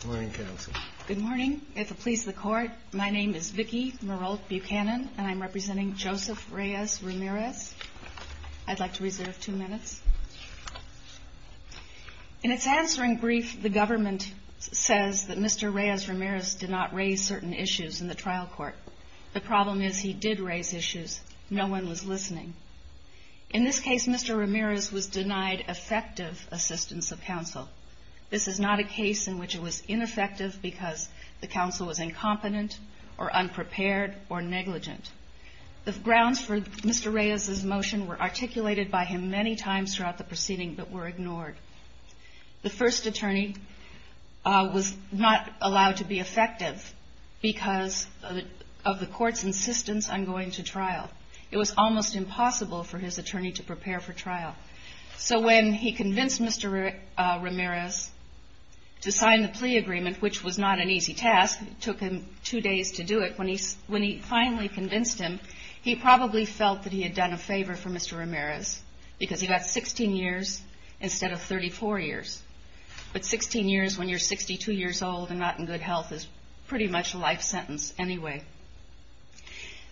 Good morning counsel. Good morning. If it pleases the court, my name is Vicki Merolt Buchanan, and I'm representing Joseph Reyes Ramirez. I'd like to reserve two minutes. In its answering brief, the government says that Mr. Reyes Ramirez did not raise certain issues in the trial court. The problem is he did raise issues. No one was listening. In this case, Mr. Ramirez was denied effective assistance of counsel. This is not a case in which it was ineffective because the counsel was incompetent or unprepared or negligent. The grounds for Mr. Reyes's motion were articulated by him many times throughout the proceeding but were ignored. The first attorney was not allowed to be effective because of the court's insistence on going to trial. It was almost impossible for his attorney to prepare for trial. So when he convinced Mr. Ramirez to sign the plea agreement, which was not an easy task, it took him two days to do it, when he finally convinced him, he probably felt that he had done a favor for Mr. Ramirez because he got 16 years instead of 34 years. But 16 years when you're 62 years old and not in good health is pretty much a life sentence anyway.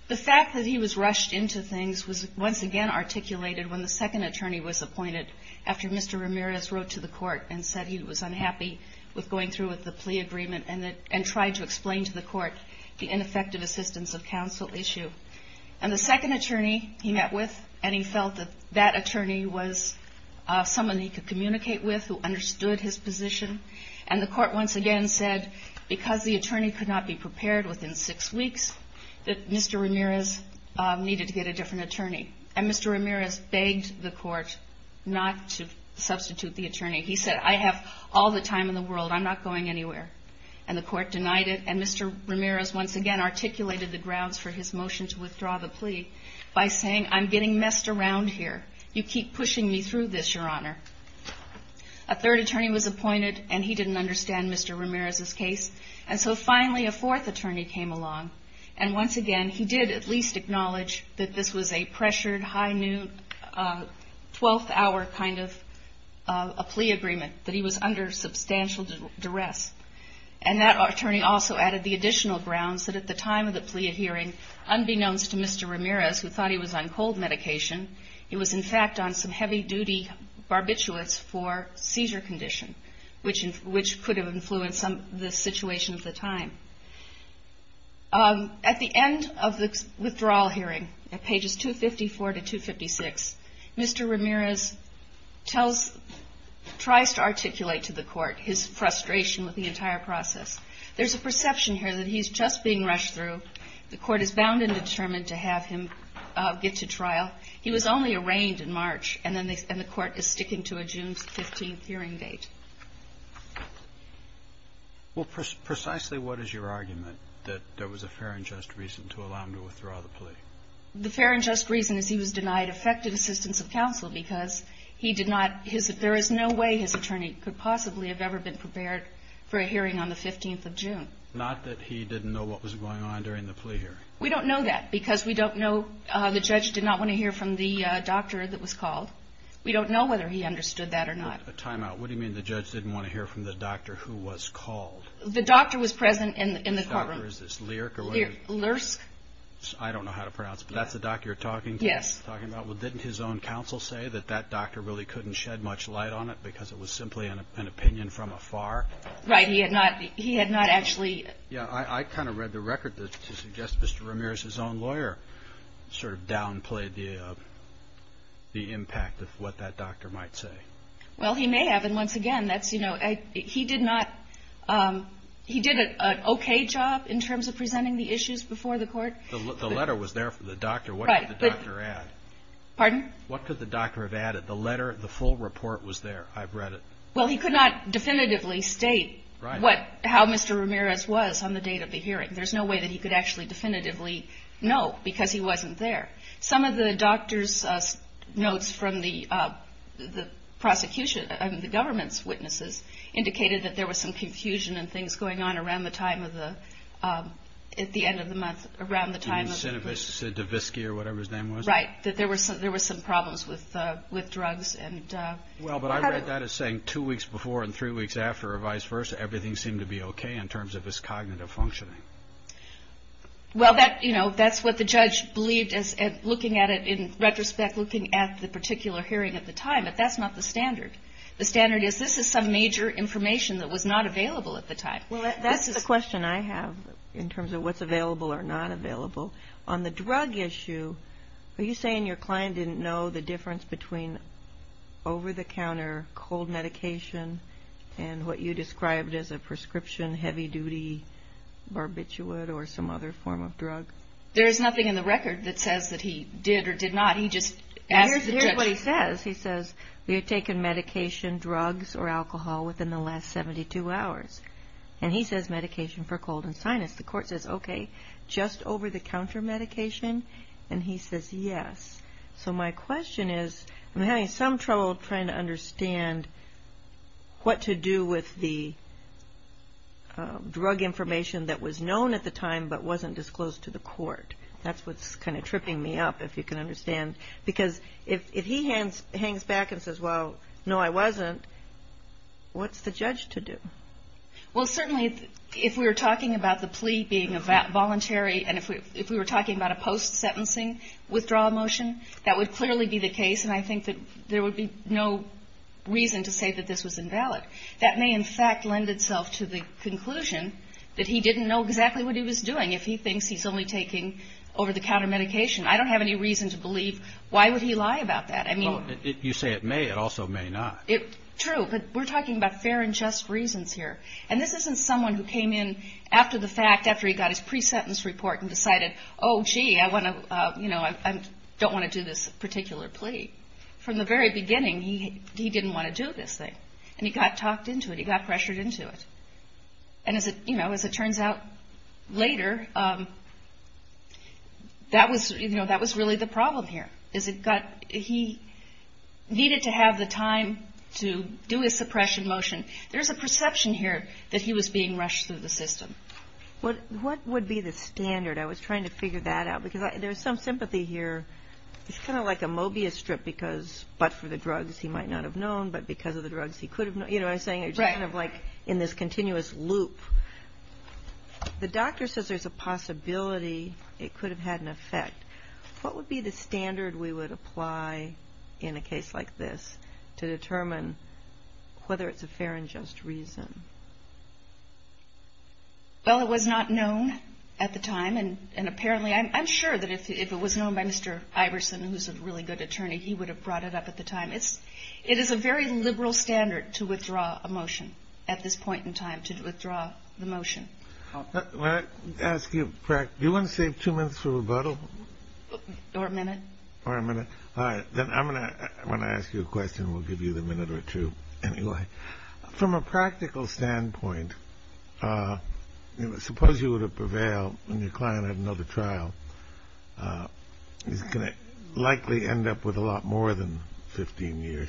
The fact that he was rushed into things was once again articulated when the second attorney was appointed after Mr. Ramirez wrote to the court and said he was unhappy with going through with the plea agreement and tried to explain to the court the ineffective assistance of counsel issue. And the second attorney he met with and he felt that that attorney was someone he could communicate with who understood his position. And the court once again said, because the attorney could not be prepared within six weeks, that Mr. Ramirez needed to get a different attorney. And Mr. Ramirez begged the court not to substitute the attorney. He said, I have all the time in the world. I'm not going anywhere. And the court denied it. And Mr. Ramirez once again articulated the grounds for his motion to withdraw the plea by saying, I'm getting messed around here. You keep pushing me through this, Your Honor. A third attorney was appointed and he didn't understand Mr. Ramirez's case. And so finally a fourth attorney came along and once again he did at least acknowledge that this was a pressured, high noon, 12th hour kind of a plea agreement, that he was under substantial duress. And that attorney also added the additional grounds that at the time of the plea hearing, unbeknownst to Mr. Ramirez who thought he was on cold medication, he was in fact on some heavy duty barbiturates for seizure condition, which could have influenced the situation at the time. At the end of the withdrawal hearing, at pages 254 to 256, Mr. Ramirez tries to articulate to the court his frustration with the entire process. There's a perception here that he's just being rushed through. The court is bound and determined to have him get to trial. He was only arraigned in March and then the court is sticking to a June 15th hearing date. Well, precisely what is your argument that there was a fair and just reason to allow him to withdraw the plea? The fair and just reason is he was denied effective assistance of counsel because he did not, there is no way his attorney could possibly have ever been prepared for a hearing on the 15th of June. Not that he didn't know what was going on during the plea hearing. We don't know that because we don't know, the judge did not want to hear from the doctor that was called. We don't know whether he understood that or not. A timeout, what do you mean the judge didn't want to hear from the doctor who was called? The doctor was present in the courtroom. Which doctor, is this Lirk or whatever? Lirk. I don't know how to pronounce it, but that's the doctor you're talking about? Yes. Well, didn't his own counsel say that that doctor really couldn't shed much light on it because it was simply an opinion from afar? Right, he had not actually. Yeah, I kind of read the record to suggest Mr. Ramirez's own lawyer sort of downplayed the impact of what that doctor might say. Well, he may have. And once again, that's, you know, he did not, he did an okay job in terms of presenting the issues before the court. The letter was there for the doctor. What did the doctor add? Pardon? What could the doctor have added? The letter, the full report was there. I've read it. Well, he could not definitively state what, how Mr. Ramirez was on the date of the hearing. There's no way that he could actually definitively know because he wasn't there. Some of the doctor's notes from the prosecution, I mean the government's witnesses, indicated that there was some confusion and things going on around the time of the, at the end of the month, around the time of the... Do you mean Sinovich, Siddovisky or whatever his name was? Right, that there were some problems with drugs and... Well, but I read that as saying two weeks before and three weeks after or vice versa. Everything seemed to be okay in terms of his cognitive functioning. Well, that, you know, that's what the judge believed as looking at it in retrospect, looking at the particular hearing at the time. But that's not the standard. The standard is this is some major information that was not available at the time. Well, that's the question I have in terms of what's available or not available. On the drug issue, are you saying your client didn't know the difference between over-the-counter cold medication and what you described as a prescription heavy-duty barbiturate or some other form of drug? There is nothing in the record that says that he did or did not. He just asked the judge. Here's what he says. He says, we have taken medication, drugs or alcohol within the last 72 hours. And he says medication for cold and sinus. The court says, okay, just over-the-counter medication? And he says yes. So my question is I'm having some trouble trying to understand what to do with the drug information that was known at the time but wasn't disclosed to the court. That's what's kind of tripping me up, if you can understand. Because if he hangs back and says, well, no, I wasn't, what's the judge to do? Well, certainly if we were talking about the plea being a voluntary and if we were talking about a post-sentencing withdrawal motion, that would clearly be the case. And I think that there would be no reason to say that this was invalid. That may, in fact, lend itself to the conclusion that he didn't know exactly what he was doing, if he thinks he's only taking over-the-counter medication. I don't have any reason to believe why would he lie about that. I mean you say it may, it also may not. True, but we're talking about fair and just reasons here. And this isn't someone who came in after the fact, after he got his pre-sentence report and decided, oh, gee, I don't want to do this particular plea. From the very beginning, he didn't want to do this thing. And he got talked into it. He got pressured into it. And as it turns out later, that was really the problem here. He needed to have the time to do his suppression motion. There's a perception here that he was being rushed through the system. What would be the standard? I was trying to figure that out because there's some sympathy here. It's kind of like a Mobius strip because but for the drugs he might not have known, but because of the drugs he could have known. You know what I'm saying? It's kind of like in this continuous loop. The doctor says there's a possibility it could have had an effect. What would be the standard we would apply in a case like this to determine whether it's a fair and just reason? Well, it was not known at the time. And apparently, I'm sure that if it was known by Mr. Iverson, who's a really good attorney, he would have brought it up at the time. It is a very liberal standard to withdraw a motion at this point in time, to withdraw the motion. When I ask you, do you want to save two minutes for rebuttal? Or a minute. Or a minute. All right. Then when I ask you a question, we'll give you the minute or two anyway. From a practical standpoint, suppose you were to prevail and your client had another trial. He's going to likely end up with a lot more than 15 years.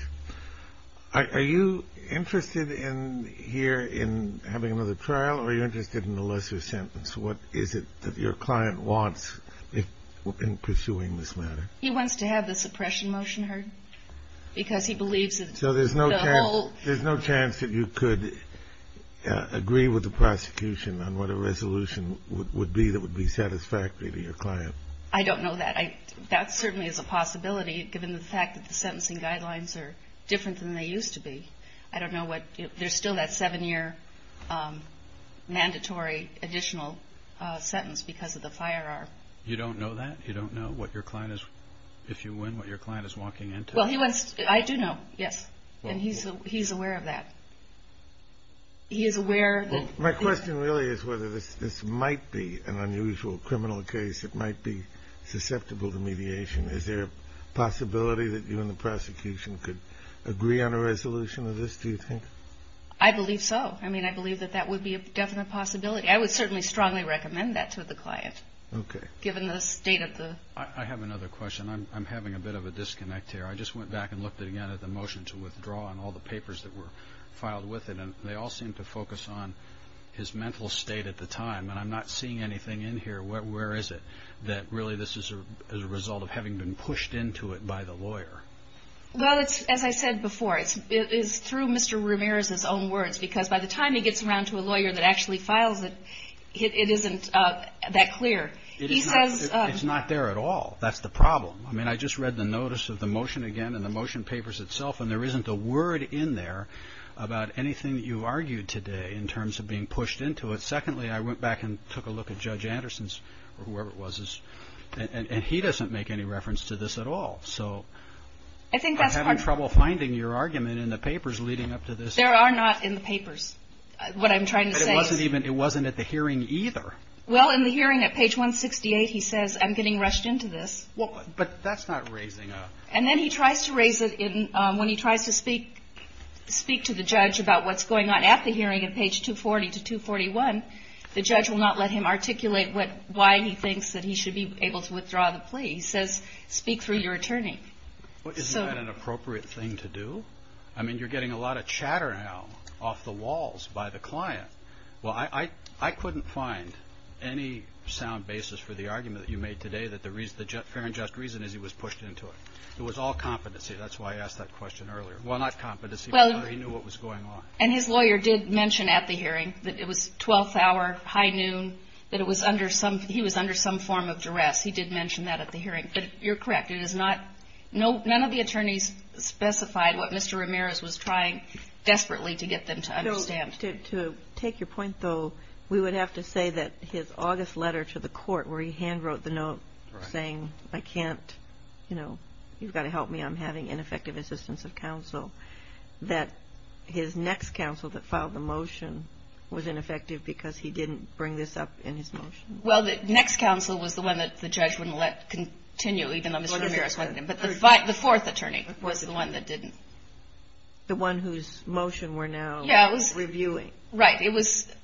Are you interested in here in having another trial, or are you interested in a lesser sentence? What is it that your client wants in pursuing this matter? He wants to have the suppression motion heard because he believes that the whole. So there's no chance that you could agree with the prosecution on what a resolution would be that would be satisfactory to your client? I don't know that. That certainly is a possibility, given the fact that the sentencing guidelines are different than they used to be. I don't know what. There's still that seven-year mandatory additional sentence because of the firearm. You don't know that? You don't know what your client is, if you win, what your client is walking into? Well, I do know, yes. And he's aware of that. He is aware. My question really is whether this might be an unusual criminal case that might be susceptible to mediation. Is there a possibility that you and the prosecution could agree on a resolution of this, do you think? I believe so. I mean, I believe that that would be a definite possibility. I would certainly strongly recommend that to the client, given the state of the. I have another question. I'm having a bit of a disconnect here. I just went back and looked again at the motion to withdraw and all the papers that were filed with it. And they all seem to focus on his mental state at the time. And I'm not seeing anything in here. Where is it that really this is a result of having been pushed into it by the lawyer? Well, as I said before, it's through Mr. Ramirez's own words. Because by the time he gets around to a lawyer that actually files it, it isn't that clear. He says. It's not there at all. That's the problem. I mean, I just read the notice of the motion again and the motion papers itself. And there isn't a word in there about anything that you've argued today in terms of being pushed into it. Secondly, I went back and took a look at Judge Anderson's or whoever it was. And he doesn't make any reference to this at all. So I'm having trouble finding your argument in the papers leading up to this. There are not in the papers what I'm trying to say. It wasn't at the hearing either. Well, in the hearing at page 168, he says, I'm getting rushed into this. But that's not raising a. And then he tries to raise it when he tries to speak, speak to the judge about what's going on at the hearing at page 240 to 241. The judge will not let him articulate what why he thinks that he should be able to withdraw the plea. He says, speak through your attorney. What is an appropriate thing to do? I mean, you're getting a lot of chatter now off the walls by the client. Well, I couldn't find any sound basis for the argument that you made today that the reason, the fair and just reason is he was pushed into it. It was all competency. That's why I asked that question earlier. Well, not competency. He knew what was going on. And his lawyer did mention at the hearing that it was 12th hour, high noon, that it was under some, he was under some form of duress. He did mention that at the hearing. But you're correct. It is not, none of the attorneys specified what Mr. Ramirez was trying desperately to get them to understand. To take your point, though, we would have to say that his August letter to the court where he handwrote the note saying, I can't, you know, you've got to help me, I'm having ineffective assistance of counsel, that his next counsel that filed the motion was ineffective because he didn't bring this up in his motion. Well, the next counsel was the one that the judge wouldn't let continue, even though Mr. Ramirez wanted him. But the fourth attorney was the one that didn't. The one whose motion we're now reviewing. Right.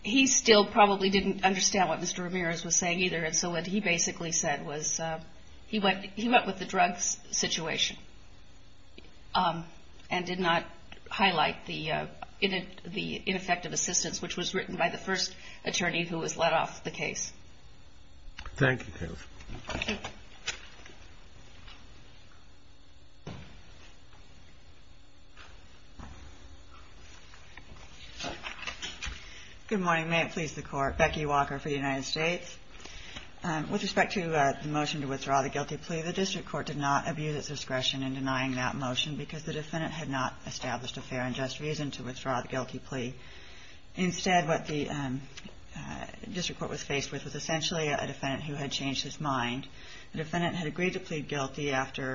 He still probably didn't understand what Mr. Ramirez was saying either. And so what he basically said was he went with the drugs situation and did not highlight the ineffective assistance, which was written by the first attorney who was let off the case. Thank you, Kayleigh. Good morning. May it please the Court. Becky Walker for the United States. With respect to the motion to withdraw the guilty plea, the district court did not abuse its discretion in denying that motion because the defendant had not established a fair and just reason to withdraw the guilty plea. Instead, what the district court was faced with was essentially a defendant who had changed his mind. The defendant had agreed to plead guilty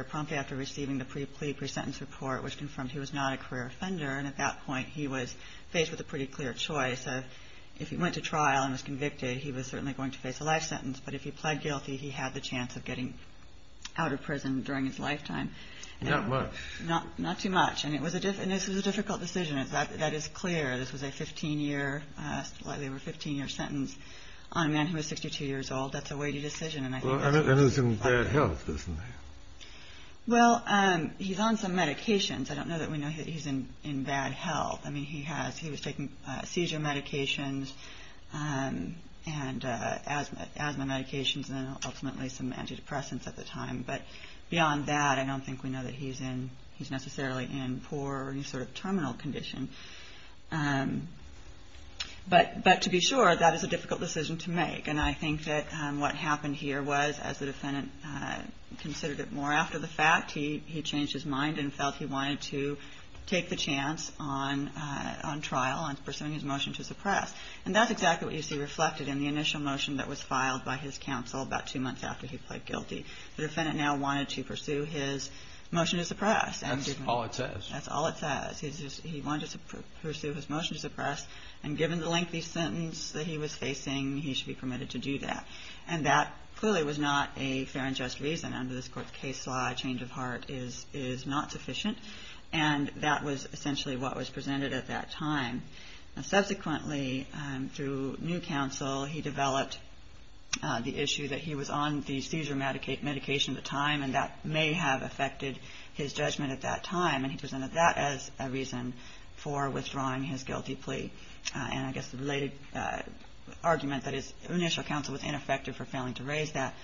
promptly after receiving the plea pre-sentence report, which confirmed he was not a career offender. And at that point, he was faced with a pretty clear choice of if he went to trial and was convicted, he was certainly going to face a life sentence. But if he pled guilty, he had the chance of getting out of prison during his lifetime. Not much. Not too much. And this was a difficult decision. That is clear. This was a 15-year sentence on a man who was 62 years old. That's a weighty decision. And he's in bad health, isn't he? Well, he's on some medications. I don't know that we know that he's in bad health. I mean, he was taking seizure medications and asthma medications and ultimately some antidepressants at the time. But beyond that, I don't think we know that he's necessarily in poor or any sort of terminal condition. But to be sure, that is a difficult decision to make. And I think that what happened here was, as the defendant considered it more after the fact, he changed his mind and felt he wanted to take the chance on trial and pursuing his motion to suppress. And that's exactly what you see reflected in the initial motion that was filed by his counsel about two months after he pled guilty. The defendant now wanted to pursue his motion to suppress. That's all it says. That's all it says. He wanted to pursue his motion to suppress. And given the lengthy sentence that he was facing, he should be permitted to do that. And that clearly was not a fair and just reason. Under this Court's case law, change of heart is not sufficient. And that was essentially what was presented at that time. Subsequently, through new counsel, he developed the issue that he was on the seizure medication at the time, and that may have affected his judgment at that time. And he presented that as a reason for withdrawing his guilty plea. And I guess the related argument that his initial counsel was ineffective for failing to raise that.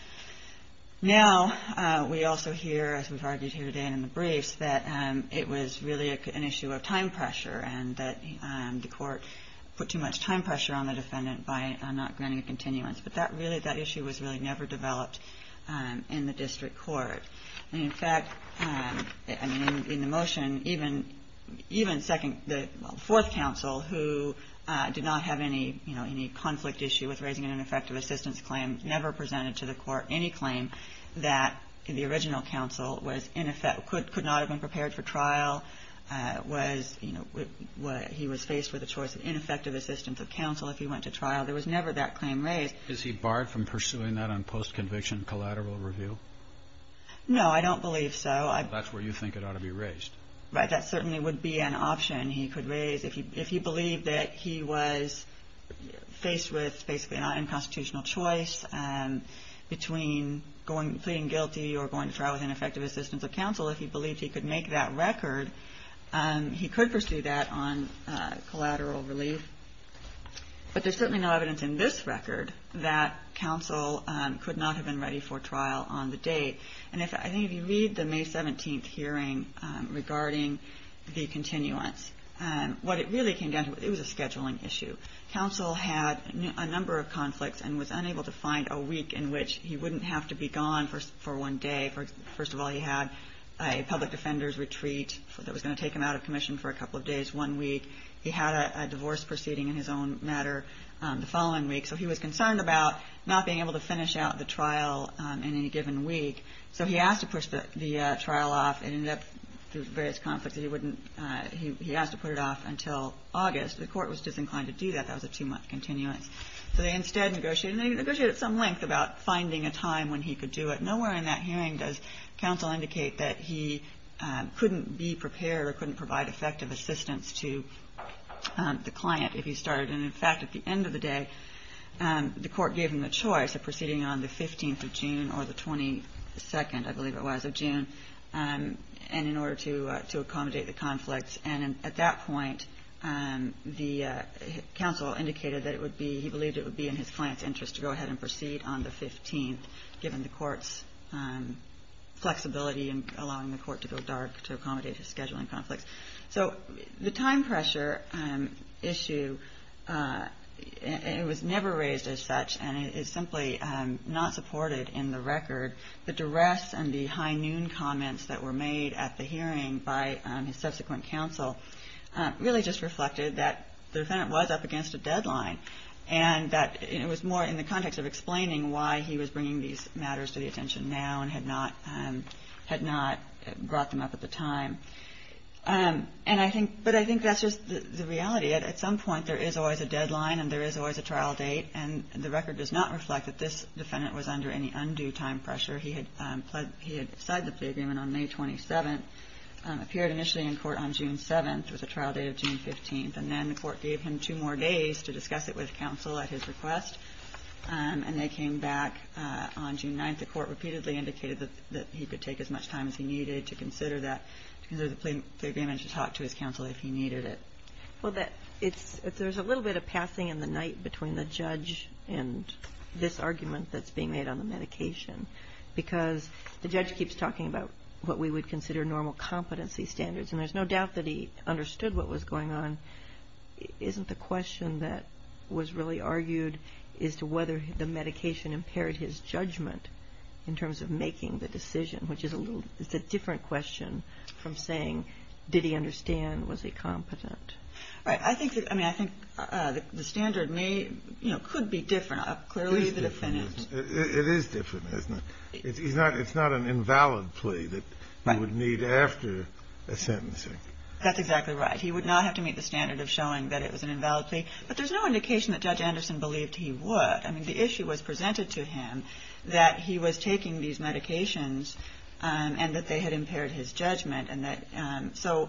Now, we also hear, as we've argued here today and in the briefs, that it was really an issue of time pressure and that the Court put too much time pressure on the defendant by not granting a continuance. But that issue was really never developed in the district court. In fact, in the motion, even the fourth counsel, who did not have any conflict issue with raising an ineffective assistance claim, never presented to the Court any claim that the original counsel could not have been prepared for trial, was, you know, he was faced with a choice of ineffective assistance of counsel if he went to trial. There was never that claim raised. Is he barred from pursuing that on post-conviction collateral review? No, I don't believe so. That's where you think it ought to be raised. Right. That certainly would be an option he could raise. If he believed that he was faced with basically an unconstitutional choice between pleading guilty or going to trial with ineffective assistance of counsel, if he believed he could make that record, he could pursue that on collateral relief. But there's certainly no evidence in this record that counsel could not have been ready for trial on the date. And I think if you read the May 17th hearing regarding the continuance, what it really came down to, it was a scheduling issue. Counsel had a number of conflicts and was unable to find a week in which he wouldn't have to be gone for one day. First of all, he had a public defender's retreat that was going to take him out of commission for a couple of days, one week. He had a divorce proceeding in his own matter the following week. So he was concerned about not being able to finish out the trial in any given week. So he asked to push the trial off. It ended up through various conflicts that he wouldn't – he asked to put it off until August. The court was disinclined to do that. That was a two-month continuance. So they instead negotiated. And they negotiated at some length about finding a time when he could do it. Nowhere in that hearing does counsel indicate that he couldn't be prepared or couldn't provide effective assistance to the client if he started. And, in fact, at the end of the day, the court gave him the choice of proceeding on the 15th of June or the 22nd, I believe it was, of June, and in order to accommodate the conflicts. And at that point, the counsel indicated that it would be – he believed it would be in his client's interest to go ahead and proceed on the 15th, given the court's flexibility in allowing the court to go dark to accommodate his scheduling conflicts. So the time pressure issue, it was never raised as such, and it is simply not supported in the record. The duress and the high noon comments that were made at the hearing by his subsequent counsel really just reflected that the defendant was up against a deadline and that it was more in the context of explaining why he was bringing these matters to the attention now and had not brought them up at the time. And I think – but I think that's just the reality. At some point, there is always a deadline and there is always a trial date, and the record does not reflect that this defendant was under any undue time pressure. He had pledged – he had signed the plea agreement on May 27th, appeared initially in court on June 7th with a trial date of June 15th, and then the court gave him two more days to discuss it with counsel at his request, and they came back on June 9th. The court repeatedly indicated that he could take as much time as he needed to consider that – to consider the plea agreement and to talk to his counsel if he needed it. Well, that – it's – there's a little bit of passing in the night between the judge and this argument that's being made on the medication, because the judge keeps talking about what we would consider normal competency standards, and there's no doubt that he understood what was going on. Isn't the question that was really argued as to whether the medication impaired his judgment in terms of making the decision, which is a little – it's a different question from saying, did he understand? Was he competent? Right. I think that – I mean, I think the standard may – you know, could be different. Clearly, the defendant – It is different, isn't it? It is different, isn't it? It's not – it's not an invalid plea that he would need after a sentencing. That's exactly right. He would not have to meet the standard of showing that it was an invalid plea, but there's no indication that Judge Anderson believed he would. I mean, the issue was presented to him that he was taking these medications and that they had impaired his judgment, and that – so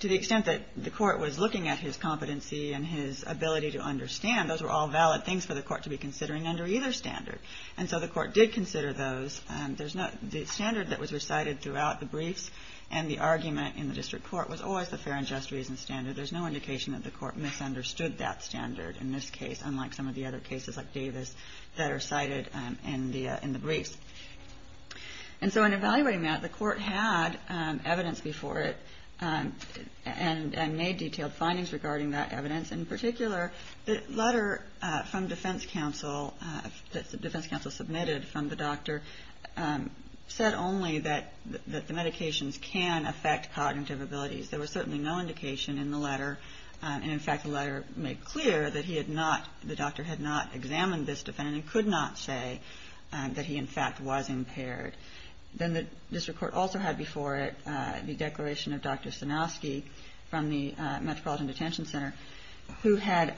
to the extent that the court was looking at his competency and his ability to understand, those were all valid things for the court to be considering under either standard. And so the court did consider those. There's no – the standard that was recited throughout the briefs and the argument in the district court was always the fair and just reason standard. There's no indication that the court misunderstood that standard in this case, unlike some of the other cases like Davis that are cited in the briefs. And so in evaluating that, the court had evidence before it and made detailed findings regarding that evidence. In particular, the letter from defense counsel – the defense counsel submitted from the doctor said only that the medications can affect cognitive abilities. There was certainly no indication in the letter, and in fact the letter made clear that he had not – the doctor had not examined this defendant and could not say that he in fact was impaired. Then the district court also had before it the declaration of Dr. Sanowski from the Metropolitan Detention Center who had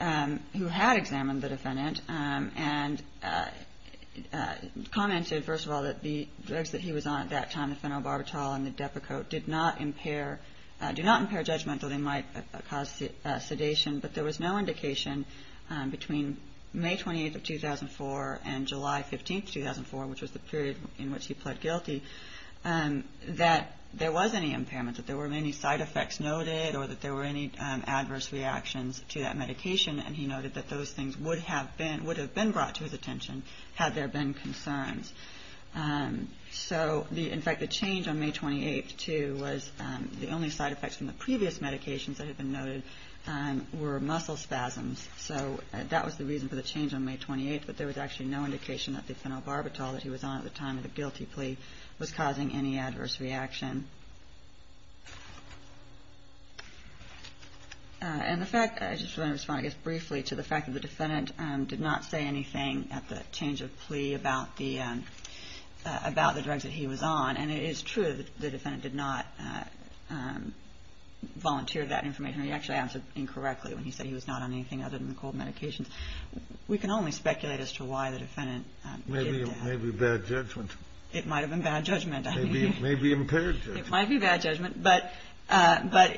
examined the defendant and commented, first of all, that the drugs that he was on at that time, the phenobarbital and the Depakote, did not impair – that they might cause sedation. But there was no indication between May 28th of 2004 and July 15th, 2004, which was the period in which he pled guilty, that there was any impairment, that there were any side effects noted or that there were any adverse reactions to that medication. And he noted that those things would have been brought to his attention had there been concerns. So, in fact, the change on May 28th, too, was the only side effects from the previous medications that had been noted were muscle spasms. So that was the reason for the change on May 28th, but there was actually no indication that the phenobarbital that he was on at the time of the guilty plea was causing any adverse reaction. And the fact – I just want to respond, I guess, briefly to the fact that the defendant did not say anything at the change of plea about the drugs that he was on. And it is true that the defendant did not volunteer that information. He actually answered incorrectly when he said he was not on anything other than the cold medications. We can only speculate as to why the defendant did that. It may be bad judgment. It might have been bad judgment. It may be impaired judgment. It might be bad judgment, but,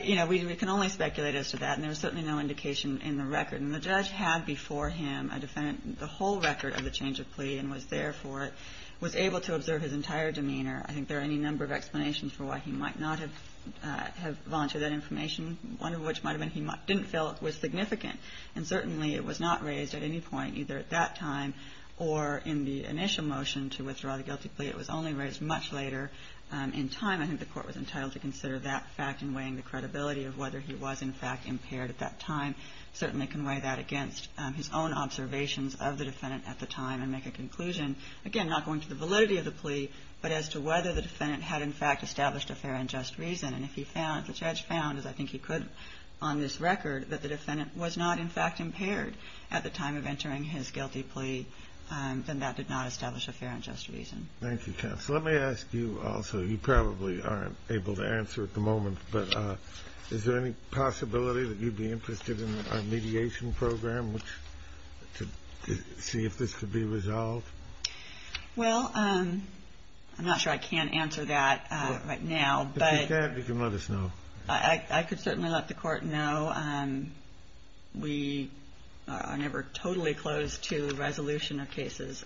you know, we can only speculate as to that. And there was certainly no indication in the record. And the judge had before him a defendant, the whole record of the change of plea, and was there for it, was able to observe his entire demeanor. I think there are any number of explanations for why he might not have volunteered that information, one of which might have been he didn't feel it was significant. And certainly it was not raised at any point, either at that time or in the initial motion to withdraw the guilty plea. It was only raised much later in time. I think the Court was entitled to consider that fact in weighing the credibility of whether he was, in fact, impaired at that time. Certainly can weigh that against his own observations of the defendant at the time and make a conclusion, again, not going to the validity of the plea, but as to whether the defendant had, in fact, established a fair and just reason. And if the judge found, as I think he could on this record, that the defendant was not, in fact, impaired at the time of entering his guilty plea, then that did not establish a fair and just reason. Thank you, counsel. Let me ask you also, you probably aren't able to answer at the moment, but is there any possibility that you'd be interested in a mediation program to see if this could be resolved? Well, I'm not sure I can answer that right now. If you can, you can let us know. I could certainly let the Court know. We are never totally closed to resolution of cases,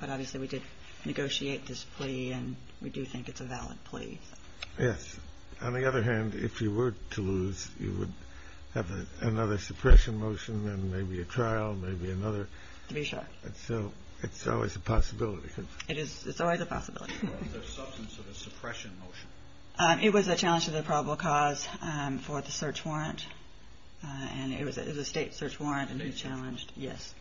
but obviously we did negotiate this plea and we do think it's a valid plea. Yes. On the other hand, if you were to lose, you would have another suppression motion and maybe a trial, maybe another. To be sure. So it's always a possibility. It is. It's always a possibility. Was there substance to the suppression motion? It was a challenge to the probable cause for the search warrant, and it was a State search warrant and he challenged. State search warrant. Yes.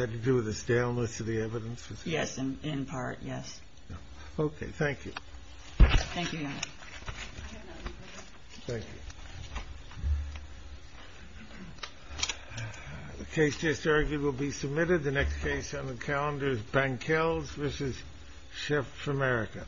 Had to do with the staleness of the evidence? Yes, in part, yes. Okay. Thank you. Thank you, Your Honor. Thank you. The case just argued will be submitted. The next case on the calendar is Bankels v. Chef America. Bankels v. Chef America.